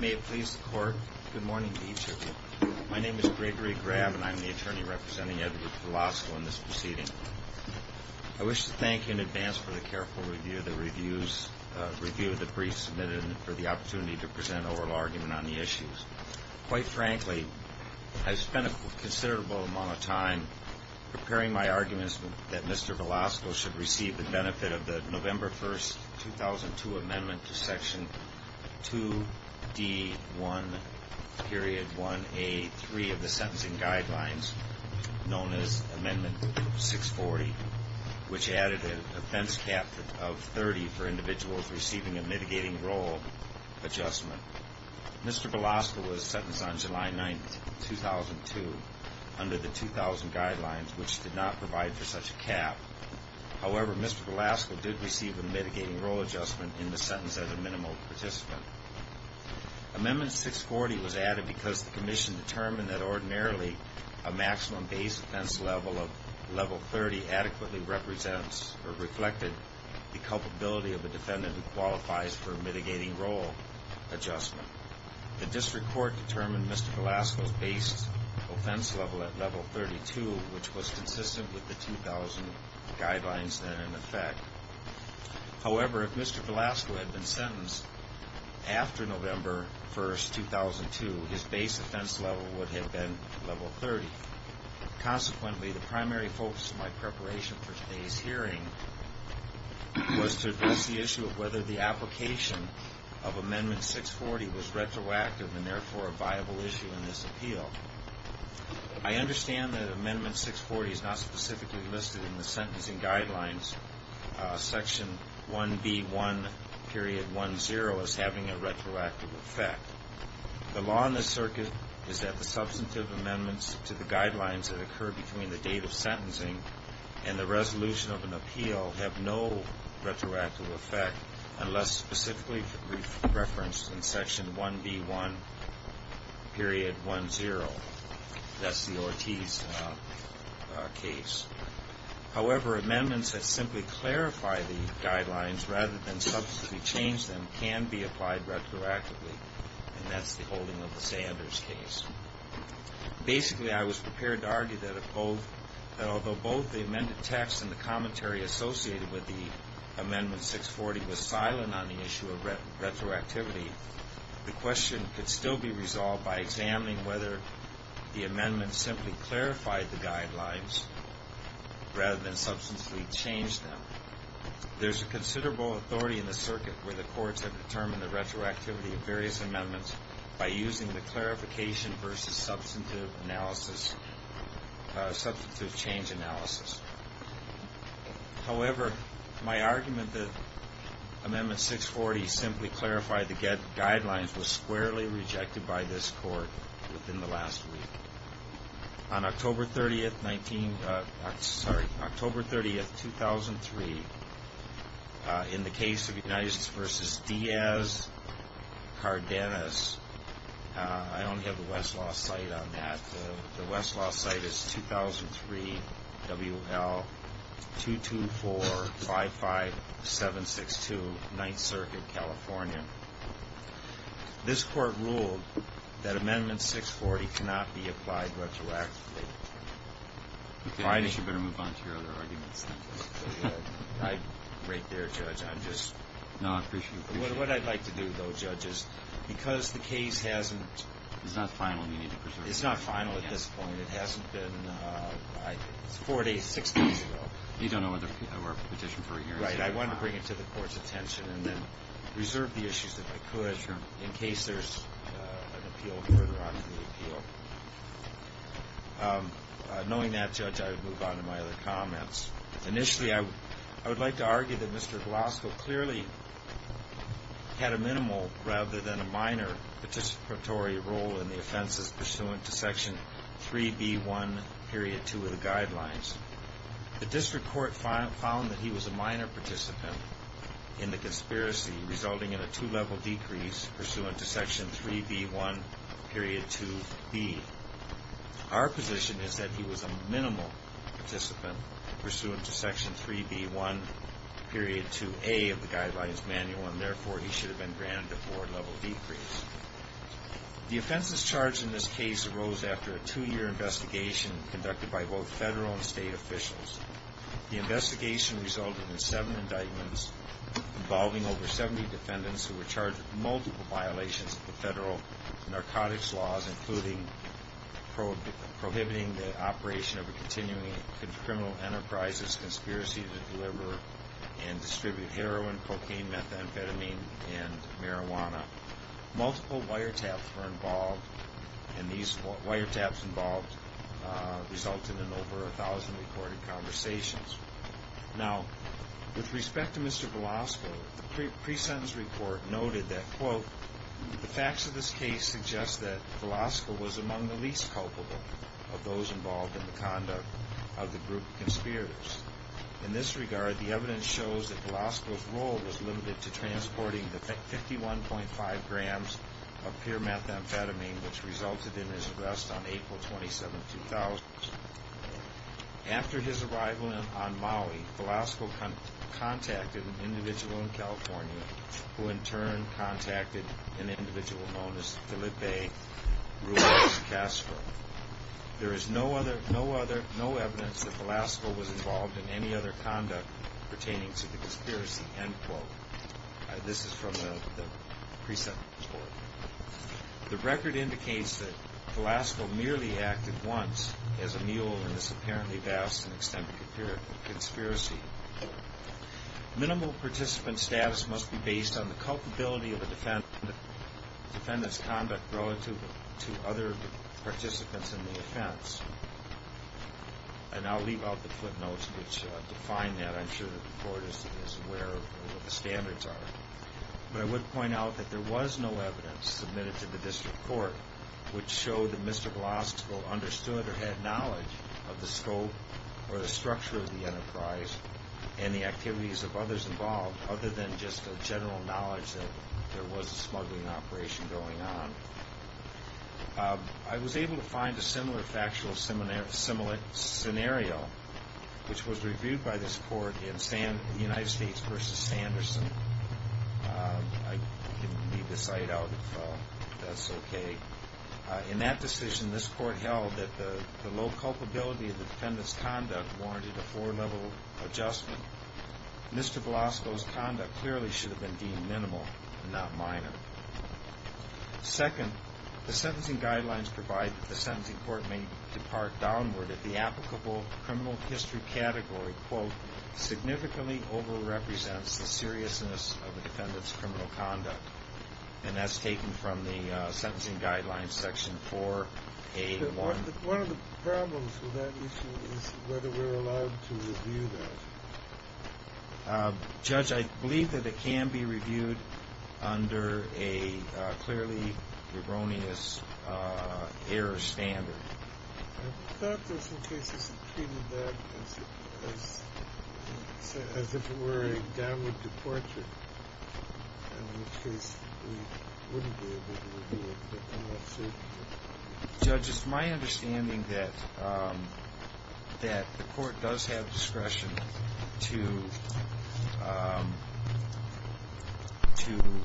May it please the Court, good morning to each of you. My name is Gregory Grabb and I'm the attorney representing Edward Velasco in this proceeding. I wish to thank you in advance for the careful review of the briefs submitted and for the opportunity to present an oral argument on the issues. Quite frankly, I've spent a considerable amount of time preparing my arguments that Mr. Velasco should receive the benefit of the November 1, 2002, Amendment to Section 2D1.1A3 of the Sentencing Guidelines, known as Amendment 640, which added an offense cap of 30 for individuals receiving a mitigating role adjustment. Mr. Velasco was sentenced on July 9, 2002, under the 2000 Guidelines, which did not provide for such a cap. However, Mr. Velasco did receive a mitigating role adjustment in the sentence as a minimal participant. Amendment 640 was added because the Commission determined that ordinarily a maximum base offense level of level 30 adequately represents or reflected the culpability of a defendant who qualifies for a mitigating role adjustment. The District Court determined Mr. Velasco's base offense level at level 32, which was consistent with the 2000 Guidelines then in effect. However, if Mr. Velasco had been sentenced after November 1, 2002, his base offense level would have been level 30. Consequently, the primary focus of my preparation for today's hearing was to address the issue of whether the application of Amendment 640 was retroactive and therefore a viable issue in this appeal. I understand that Amendment 640 is not specifically listed in the Sentencing Guidelines Section 1B1.10 as having a retroactive effect. The law in this circuit is that the substantive amendments to the Guidelines that occur between the date of sentencing and the resolution of an appeal have no retroactive effect unless specifically referenced in Section 1B1.10. That's the Ortiz case. However, amendments that simply clarify the Guidelines rather than substantively change them can be applied retroactively, and that's the holding of the Sanders case. Basically, I was prepared to say that although both the amended text and the commentary associated with the Amendment 640 was silent on the issue of retroactivity, the question could still be resolved by examining whether the amendment simply clarified the Guidelines rather than substantially changed them. There's a considerable authority in the circuit where the courts have determined the retroactivity of various amendments by using the clarification versus substantive analysis, substantive change analysis. However, my argument that Amendment 640 simply clarified the Guidelines was squarely rejected by this Court within the last week. On October 30, 2003, in the case of United v. Diaz-Cardenas, I only have the Westlaw site on that, but the Westlaw site is 2003 W.L. 22455762, Ninth Circuit, California. This Court ruled that Amendment 640 cannot be applied retroactively. I think you better move on to your other arguments. Right there, Judge. I'm just... No, I appreciate it. What I'd like to do, though, Judge, is because the case hasn't... It's not final. You need to preserve it. It's not final at this point. It hasn't been... It's four days, six days ago. You don't know what the petition... Right. I wanted to bring it to the Court's attention and then reserve the issues if I could in case there's an appeal further on in the appeal. Knowing that, Judge, I would move on to my other comments. Initially, I would like to argue that Mr. Golasco clearly had a minimal rather than a minimum participation pursuant to Section 3B1.2 of the Guidelines. The District Court found that he was a minor participant in the conspiracy, resulting in a two-level decrease pursuant to Section 3B1.2b. Our position is that he was a minimal participant pursuant to Section 3B1.2a of the Guidelines Manual, and therefore he should have been granted a four-level decrease. The offenses charged in this case arose after a two-year investigation conducted by both federal and state officials. The investigation resulted in seven indictments involving over 70 defendants who were charged with multiple violations of the federal narcotics laws, including prohibiting the operation of a continuing criminal enterprises conspiracy to deliver and distribute heroin, cocaine, methamphetamine, and marijuana. Multiple wiretaps were involved, and these wiretaps involved resulted in over 1,000 recorded conversations. Now, with respect to Mr. Golasco, the pre-sentence report noted that, quote, the facts of this case suggest that Golasco was among the least culpable of those involved in the conduct of the group of conspirators. In this regard, the evidence shows that Golasco's role was limited to transporting the 51.5 grams of pure methamphetamine, which resulted in his arrest on April 27, 2000. After his arrival on Maui, Golasco contacted an individual in California who, in turn, contacted an individual known as Felipe Ruiz Castro. There is no evidence that Golasco was involved in any other conduct pertaining to the conspiracy, end quote. This is from the pre-sentence report. The record indicates that Golasco merely acted once as a mule in this apparently vast and defendant's conduct relative to other participants in the offense. And I'll leave out the footnotes which define that. I'm sure the Court is aware of what the standards are. But I would point out that there was no evidence submitted to the District Court which showed that Mr. Golasco understood or had knowledge of the scope or the structure of the enterprise and the activities of others involved other than just a general knowledge that there was a smuggling operation going on. I was able to find a similar factual scenario which was reviewed by this Court in United States v. Sanderson. I can leave this site out if that's okay. In that decision, this Court held that the low Mr. Golasco's conduct clearly should have been deemed minimal and not minor. Second, the sentencing guidelines provide that the sentencing court may depart downward if the applicable criminal history category, quote, significantly over-represents the seriousness of the defendant's criminal conduct. And that's taken from the sentencing guidelines section 4A1. One of the problems with that issue is whether we're allowed to review that. Judge, I believe that it can be reviewed under a clearly erroneous error standard. I thought there were some cases that treated that as if it were a downward departure. In which case, we wouldn't be able to review it. Judge, it's my understanding that the Court does have discretion to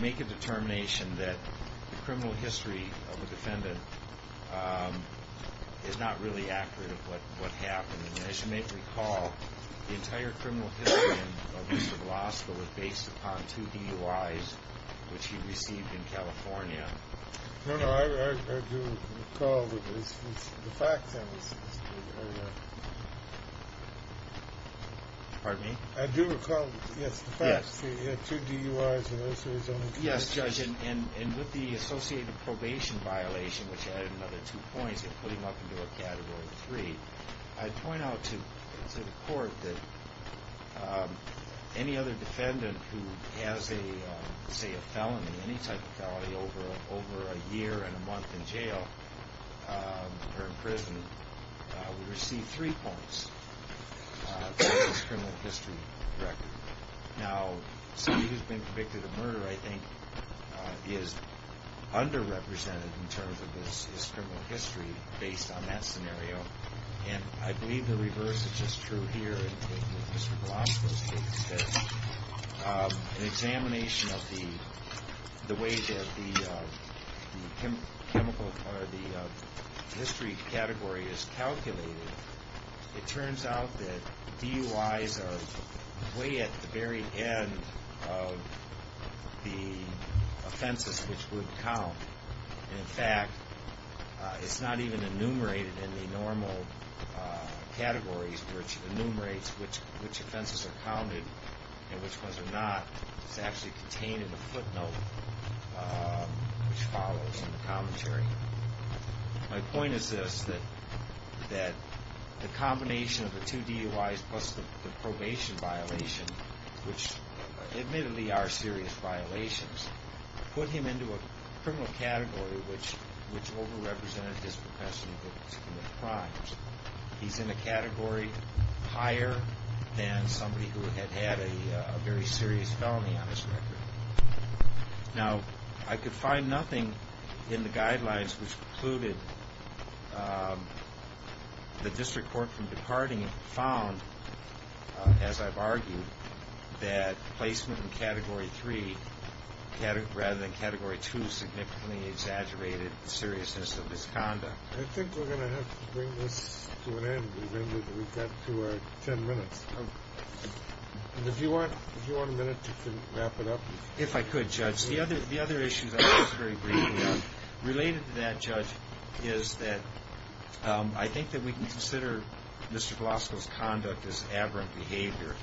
make a determination that the criminal history of the defendant is not really accurate of what happened. And as you may recall, the entire criminal history of Mr. Golasco was based upon two DUIs which he received in California. No, no, I do recall that the facts... Pardon me? I do recall, yes, the facts. He had two DUIs and those were his own. Yes, Judge, and with the associated probation violation, which added another two points, it put him up into a category three. I'd point out to the Court that any other defendant who has a, say, a felony, any type of felony, over a year and a month in jail or in prison, would receive three points for his criminal history record. Now, somebody who's been convicted of murder, I think, is underrepresented in terms of his criminal history based on that scenario. And I believe the reverse is just true here in taking Mr. Golasco's case. An examination of the way that the history category is calculated, it turns out that DUIs are way at the very end of the offenses which would count. In fact, it's not even enumerated in the normal categories, which enumerates which offenses are counted and which ones are not. It's actually contained in a footnote which follows in the commentary. My point is this, that the combination of the two DUIs plus the probation violation, which admittedly are serious violations, put him into a criminal category which overrepresented his profession in the crimes. He's in a category higher than somebody who had had a very serious felony on his record. Now, I could find nothing in the guidelines which concluded the district court from departing found, as I've argued, that placement in Category 3 rather than Category 2 significantly exaggerated the seriousness of his conduct. I think we're going to have to bring this to an end. We've got to our ten minutes. If you want a minute, you can wrap it up. If I could, Judge. The other issue that I'll just very briefly add related to that, Judge, is that I think that we can consider Mr. Golasco's conduct as aberrant behavior.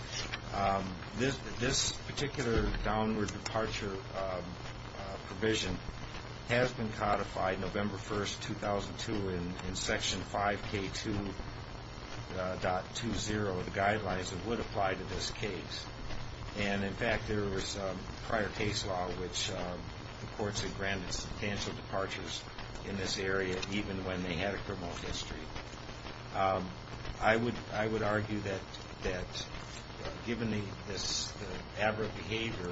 This particular downward departure provision has been codified, November 1, 2002, in Section 5K2.20 of the guidelines that would apply to this case. And, in fact, there was prior case law which the courts had granted substantial departures in this area even when they had a criminal history. I would argue that, given this aberrant behavior,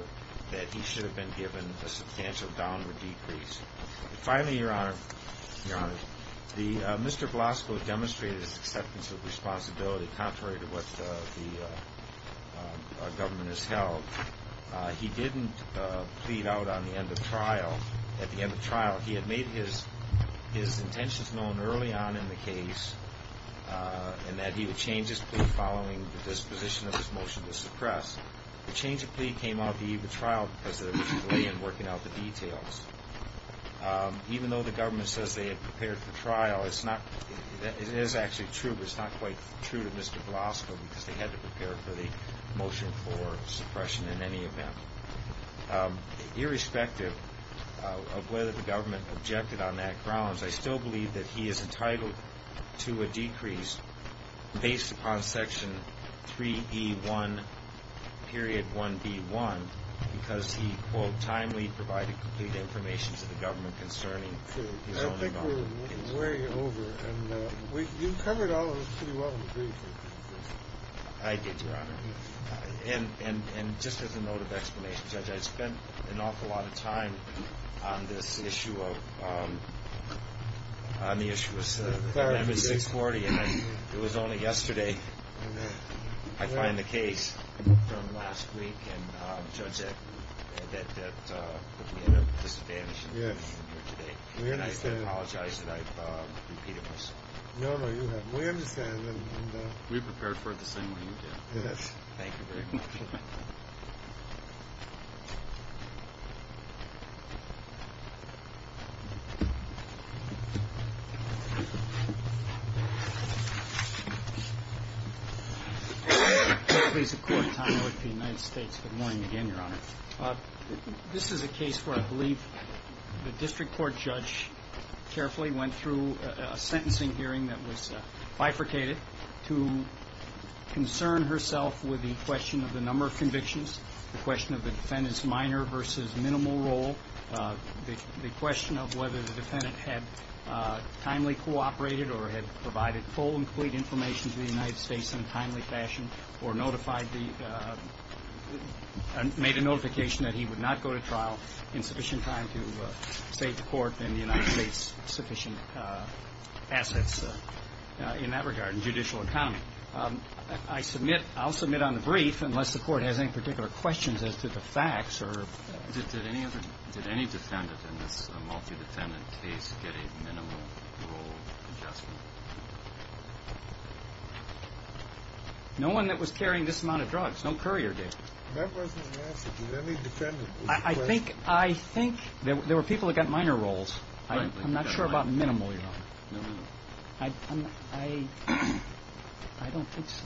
that he should have been given a substantial downward decrease. Finally, Your Honor, Mr. Golasco demonstrated his acceptance of responsibility contrary to what the government has held. He didn't plead out on the end of trial. At the end of trial, he had made his intentions known early on in the case and that he would change his plea following the disposition of his motion to suppress. The change of plea came out the eve of the trial because there was a delay in working out the details. Even though the government says they had prepared for trial, it is actually true, but it's not quite true to Mr. Golasco because they had to prepare for the motion for suppression in any event. Irrespective of whether the government objected on that grounds, I still believe that he is entitled to a decrease based upon Section 3E1.1B1 because he, quote, timely provided complete information to the government concerning his own involvement. I don't think we're way over. And you covered all of this pretty well in the briefing. I did, Your Honor. And just as a note of explanation, Judge, I spent an awful lot of time on this issue of 640, and it was only yesterday I find the case from last week, and, Judge, that we had a disadvantage. Yes. And I apologize that I've repeated myself. No, no, you have. We understand. We prepared for it the same way you did. Yes. Thank you very much. Please support time with the United States. Good morning again, Your Honor. This is a case where I believe the district court judge carefully went through a sentencing hearing that was bifurcated to concern herself with the question of the number of convictions, the question of the defendant's minor versus minimal role, the question of whether the defendant had timely cooperated or had provided full and complete information to the United States in a timely fashion or made a notification that he would not go to trial in sufficient time to state the court sufficient assets in that regard in judicial economy. I'll submit on the brief, unless the court has any particular questions as to the facts, or did any defendant in this multi-defendant case get a minimal role adjustment? No one that was carrying this amount of drugs. No courier did. That wasn't an answer. Did any defendant? I think there were people that got minor roles. I'm not sure about minimal, Your Honor. I don't think so.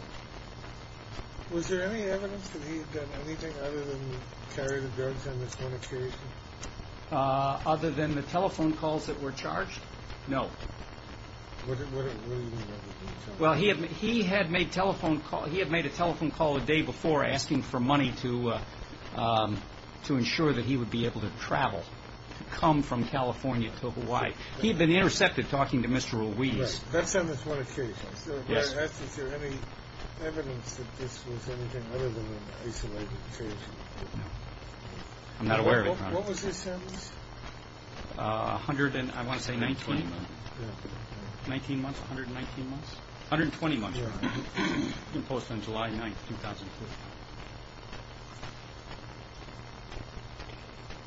Was there any evidence that he had done anything other than carry the drugs on this one occasion? Other than the telephone calls that were charged? No. Well, he had made a telephone call a day before asking for money to ensure that he would be able to travel, come from California to Hawaii. He had been intercepted talking to Mr. Ruiz. Right. That's on this one occasion. Yes. So I'd ask, is there any evidence that this was anything other than an isolated case? No. I'm not aware of it, Your Honor. What was his sentence? I want to say 19. 19 months? 119 months? 120 months, Your Honor, imposed on July 9, 2004.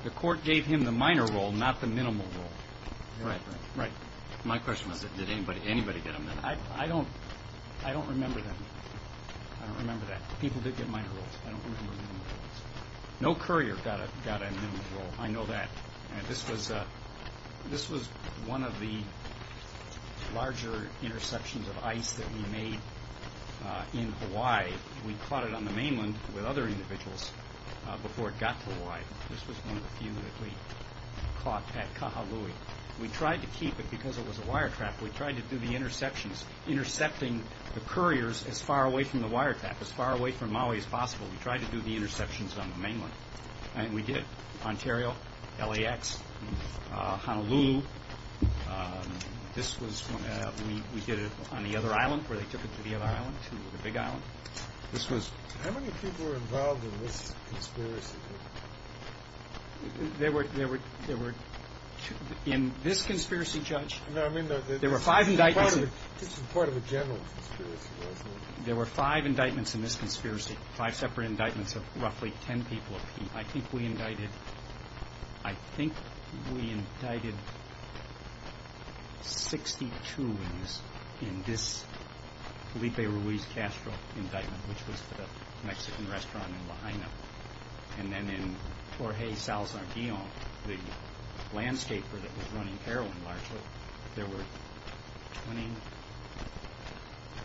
The court gave him the minor role, not the minimal role. Right. My question was, did anybody get a minimal role? I don't remember that. I don't remember that. People did get minor roles. I don't remember the minimal roles. No courier got a minimal role. I know that. This was one of the larger interceptions of ICE that we made in Hawaii. We caught it on the mainland with other individuals before it got to Hawaii. This was one of the few that we caught at Kahului. We tried to keep it because it was a wire trap. We tried to do the interceptions, intercepting the couriers as far away from the wire trap, as far away from Maui as possible. We tried to do the interceptions on the mainland. And we did. Ontario, LAX, Honolulu. This was when we did it on the other island, where they took it to the other island, to the big island. How many people were involved in this conspiracy? There were two. In this conspiracy, Judge, there were five indictments. This was part of a general conspiracy, wasn't it? There were five indictments in this conspiracy, five separate indictments of roughly ten people. I think we indicted 62 in this Felipe Ruiz Castro indictment, which was for the Mexican restaurant in Lahaina. And then in Jorge Salazar Guion, the landscaper that was running heroin, largely, there were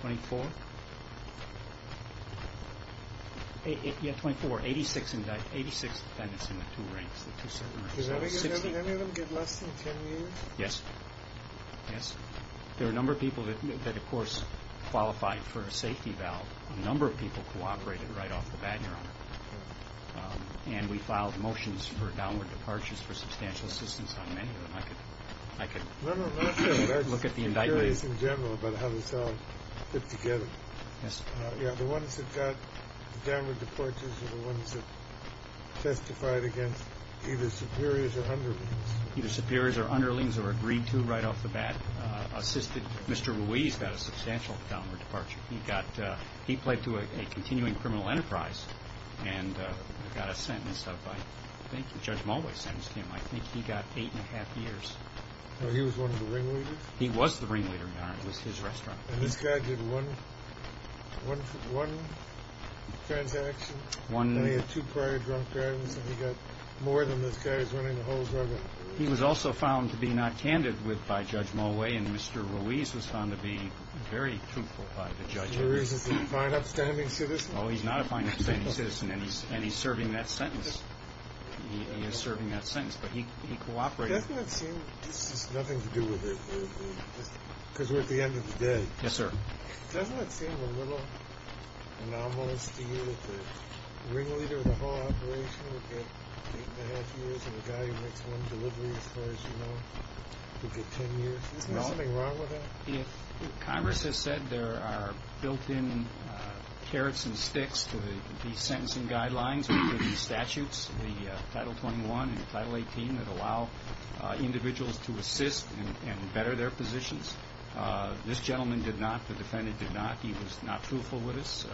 24? Yeah, 24. 86 defendants in the two ranks. Did any of them get less than ten years? Yes. There were a number of people that, of course, qualified for a safety valve. A number of people cooperated right off the bat, Your Honor. And we filed motions for downward departures for substantial assistance on many of them. I could look at the indictments. No, no, not just the superiors in general, but how this all fit together. Yes. Yeah, the ones that got downward departures were the ones that testified against either superiors or underlings. Either superiors or underlings were agreed to right off the bat. Mr. Ruiz got a substantial downward departure. He played to a continuing criminal enterprise and got a sentence of, I think, Judge Mulway sentenced him. I think he got eight and a half years. Oh, he was one of the ringleaders? He was the ringleader, Your Honor. It was his restaurant. And this guy did one transaction? One. And he had two prior drunk drivings, and he got more than this guy was running the whole drug industry? He was also found to be not candid by Judge Mulway, and Mr. Ruiz was found to be very truthful by the judge. Is Ruiz a fine, upstanding citizen? Oh, he's not a fine, upstanding citizen, and he's serving that sentence. He is serving that sentence, but he cooperated. Doesn't that seem, this has nothing to do with it, because we're at the end of the day. Yes, sir. Doesn't that seem a little anomalous to you that the ringleader of the whole operation would get eight and a half years and the guy who makes one delivery, as far as you know, would get 10 years? Isn't there something wrong with that? Congress has said there are built-in carrots and sticks to the sentencing guidelines, which are the statutes, the Title 21 and the Title 18, that allow individuals to assist and better their positions. This gentleman did not. The defendant did not. He was not truthful with us.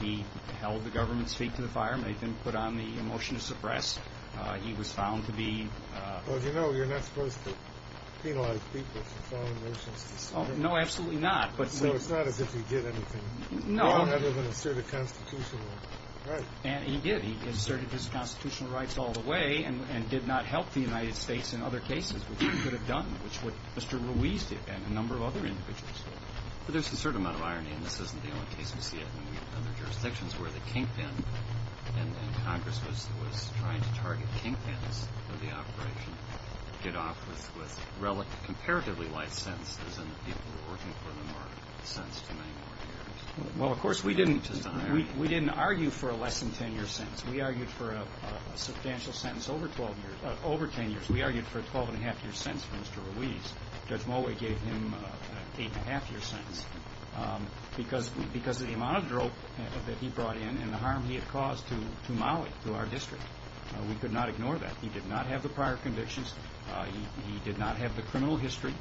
He held the government's feet to the fire, made them put on the motion to suppress. He was found to be— Well, as you know, you're not supposed to penalize people for following motions. No, absolutely not. No, it's not as if he did anything. No. He never even asserted constitutional rights. And he did. He asserted his constitutional rights all the way and did not help the United States in other cases, which he could have done, which is what Mr. Ruiz did and a number of other individuals did. But there's a certain amount of irony, and this isn't the only case we see it. Well, of course, we didn't argue for a less-than-10-year sentence. We argued for a substantial sentence over 10 years. We argued for a 12-and-a-half-year sentence for Mr. Ruiz. Judge Mulway gave him an 8-and-a-half-year sentence. Because of the amount of drop that he brought in and the harm he had caused to Mali, to our district, we could not ignore that. He did not have the prior convictions. He did not have the criminal history.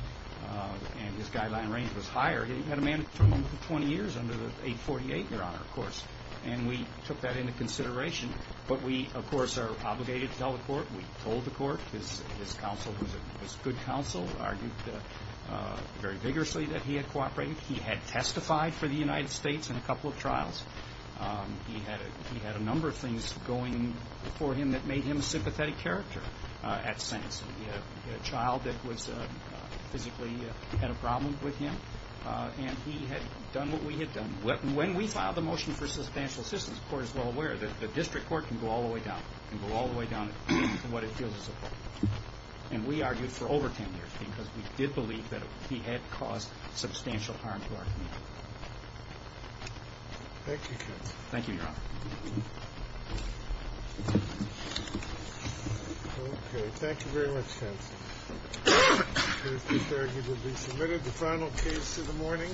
And his guideline range was higher. He had a mandate for 20 years under the 848, Your Honor, of course. And we took that into consideration. But we, of course, are obligated to tell the court. We told the court. His counsel was good counsel, argued very vigorously that he had cooperated. He had testified for the United States in a couple of trials. He had a number of things going for him that made him a sympathetic character at sentencing. He had a child that physically had a problem with him. And he had done what we had done. When we filed the motion for substantial assistance, the court is well aware that the district court can go all the way down. It can go all the way down to what it feels is appropriate. And we argued for over 10 years because we did believe that he had caused substantial harm to our community. Thank you, counsel. Thank you, Your Honor. Okay. Thank you very much, counsel. The case is argued to be submitted. The final case of the morning.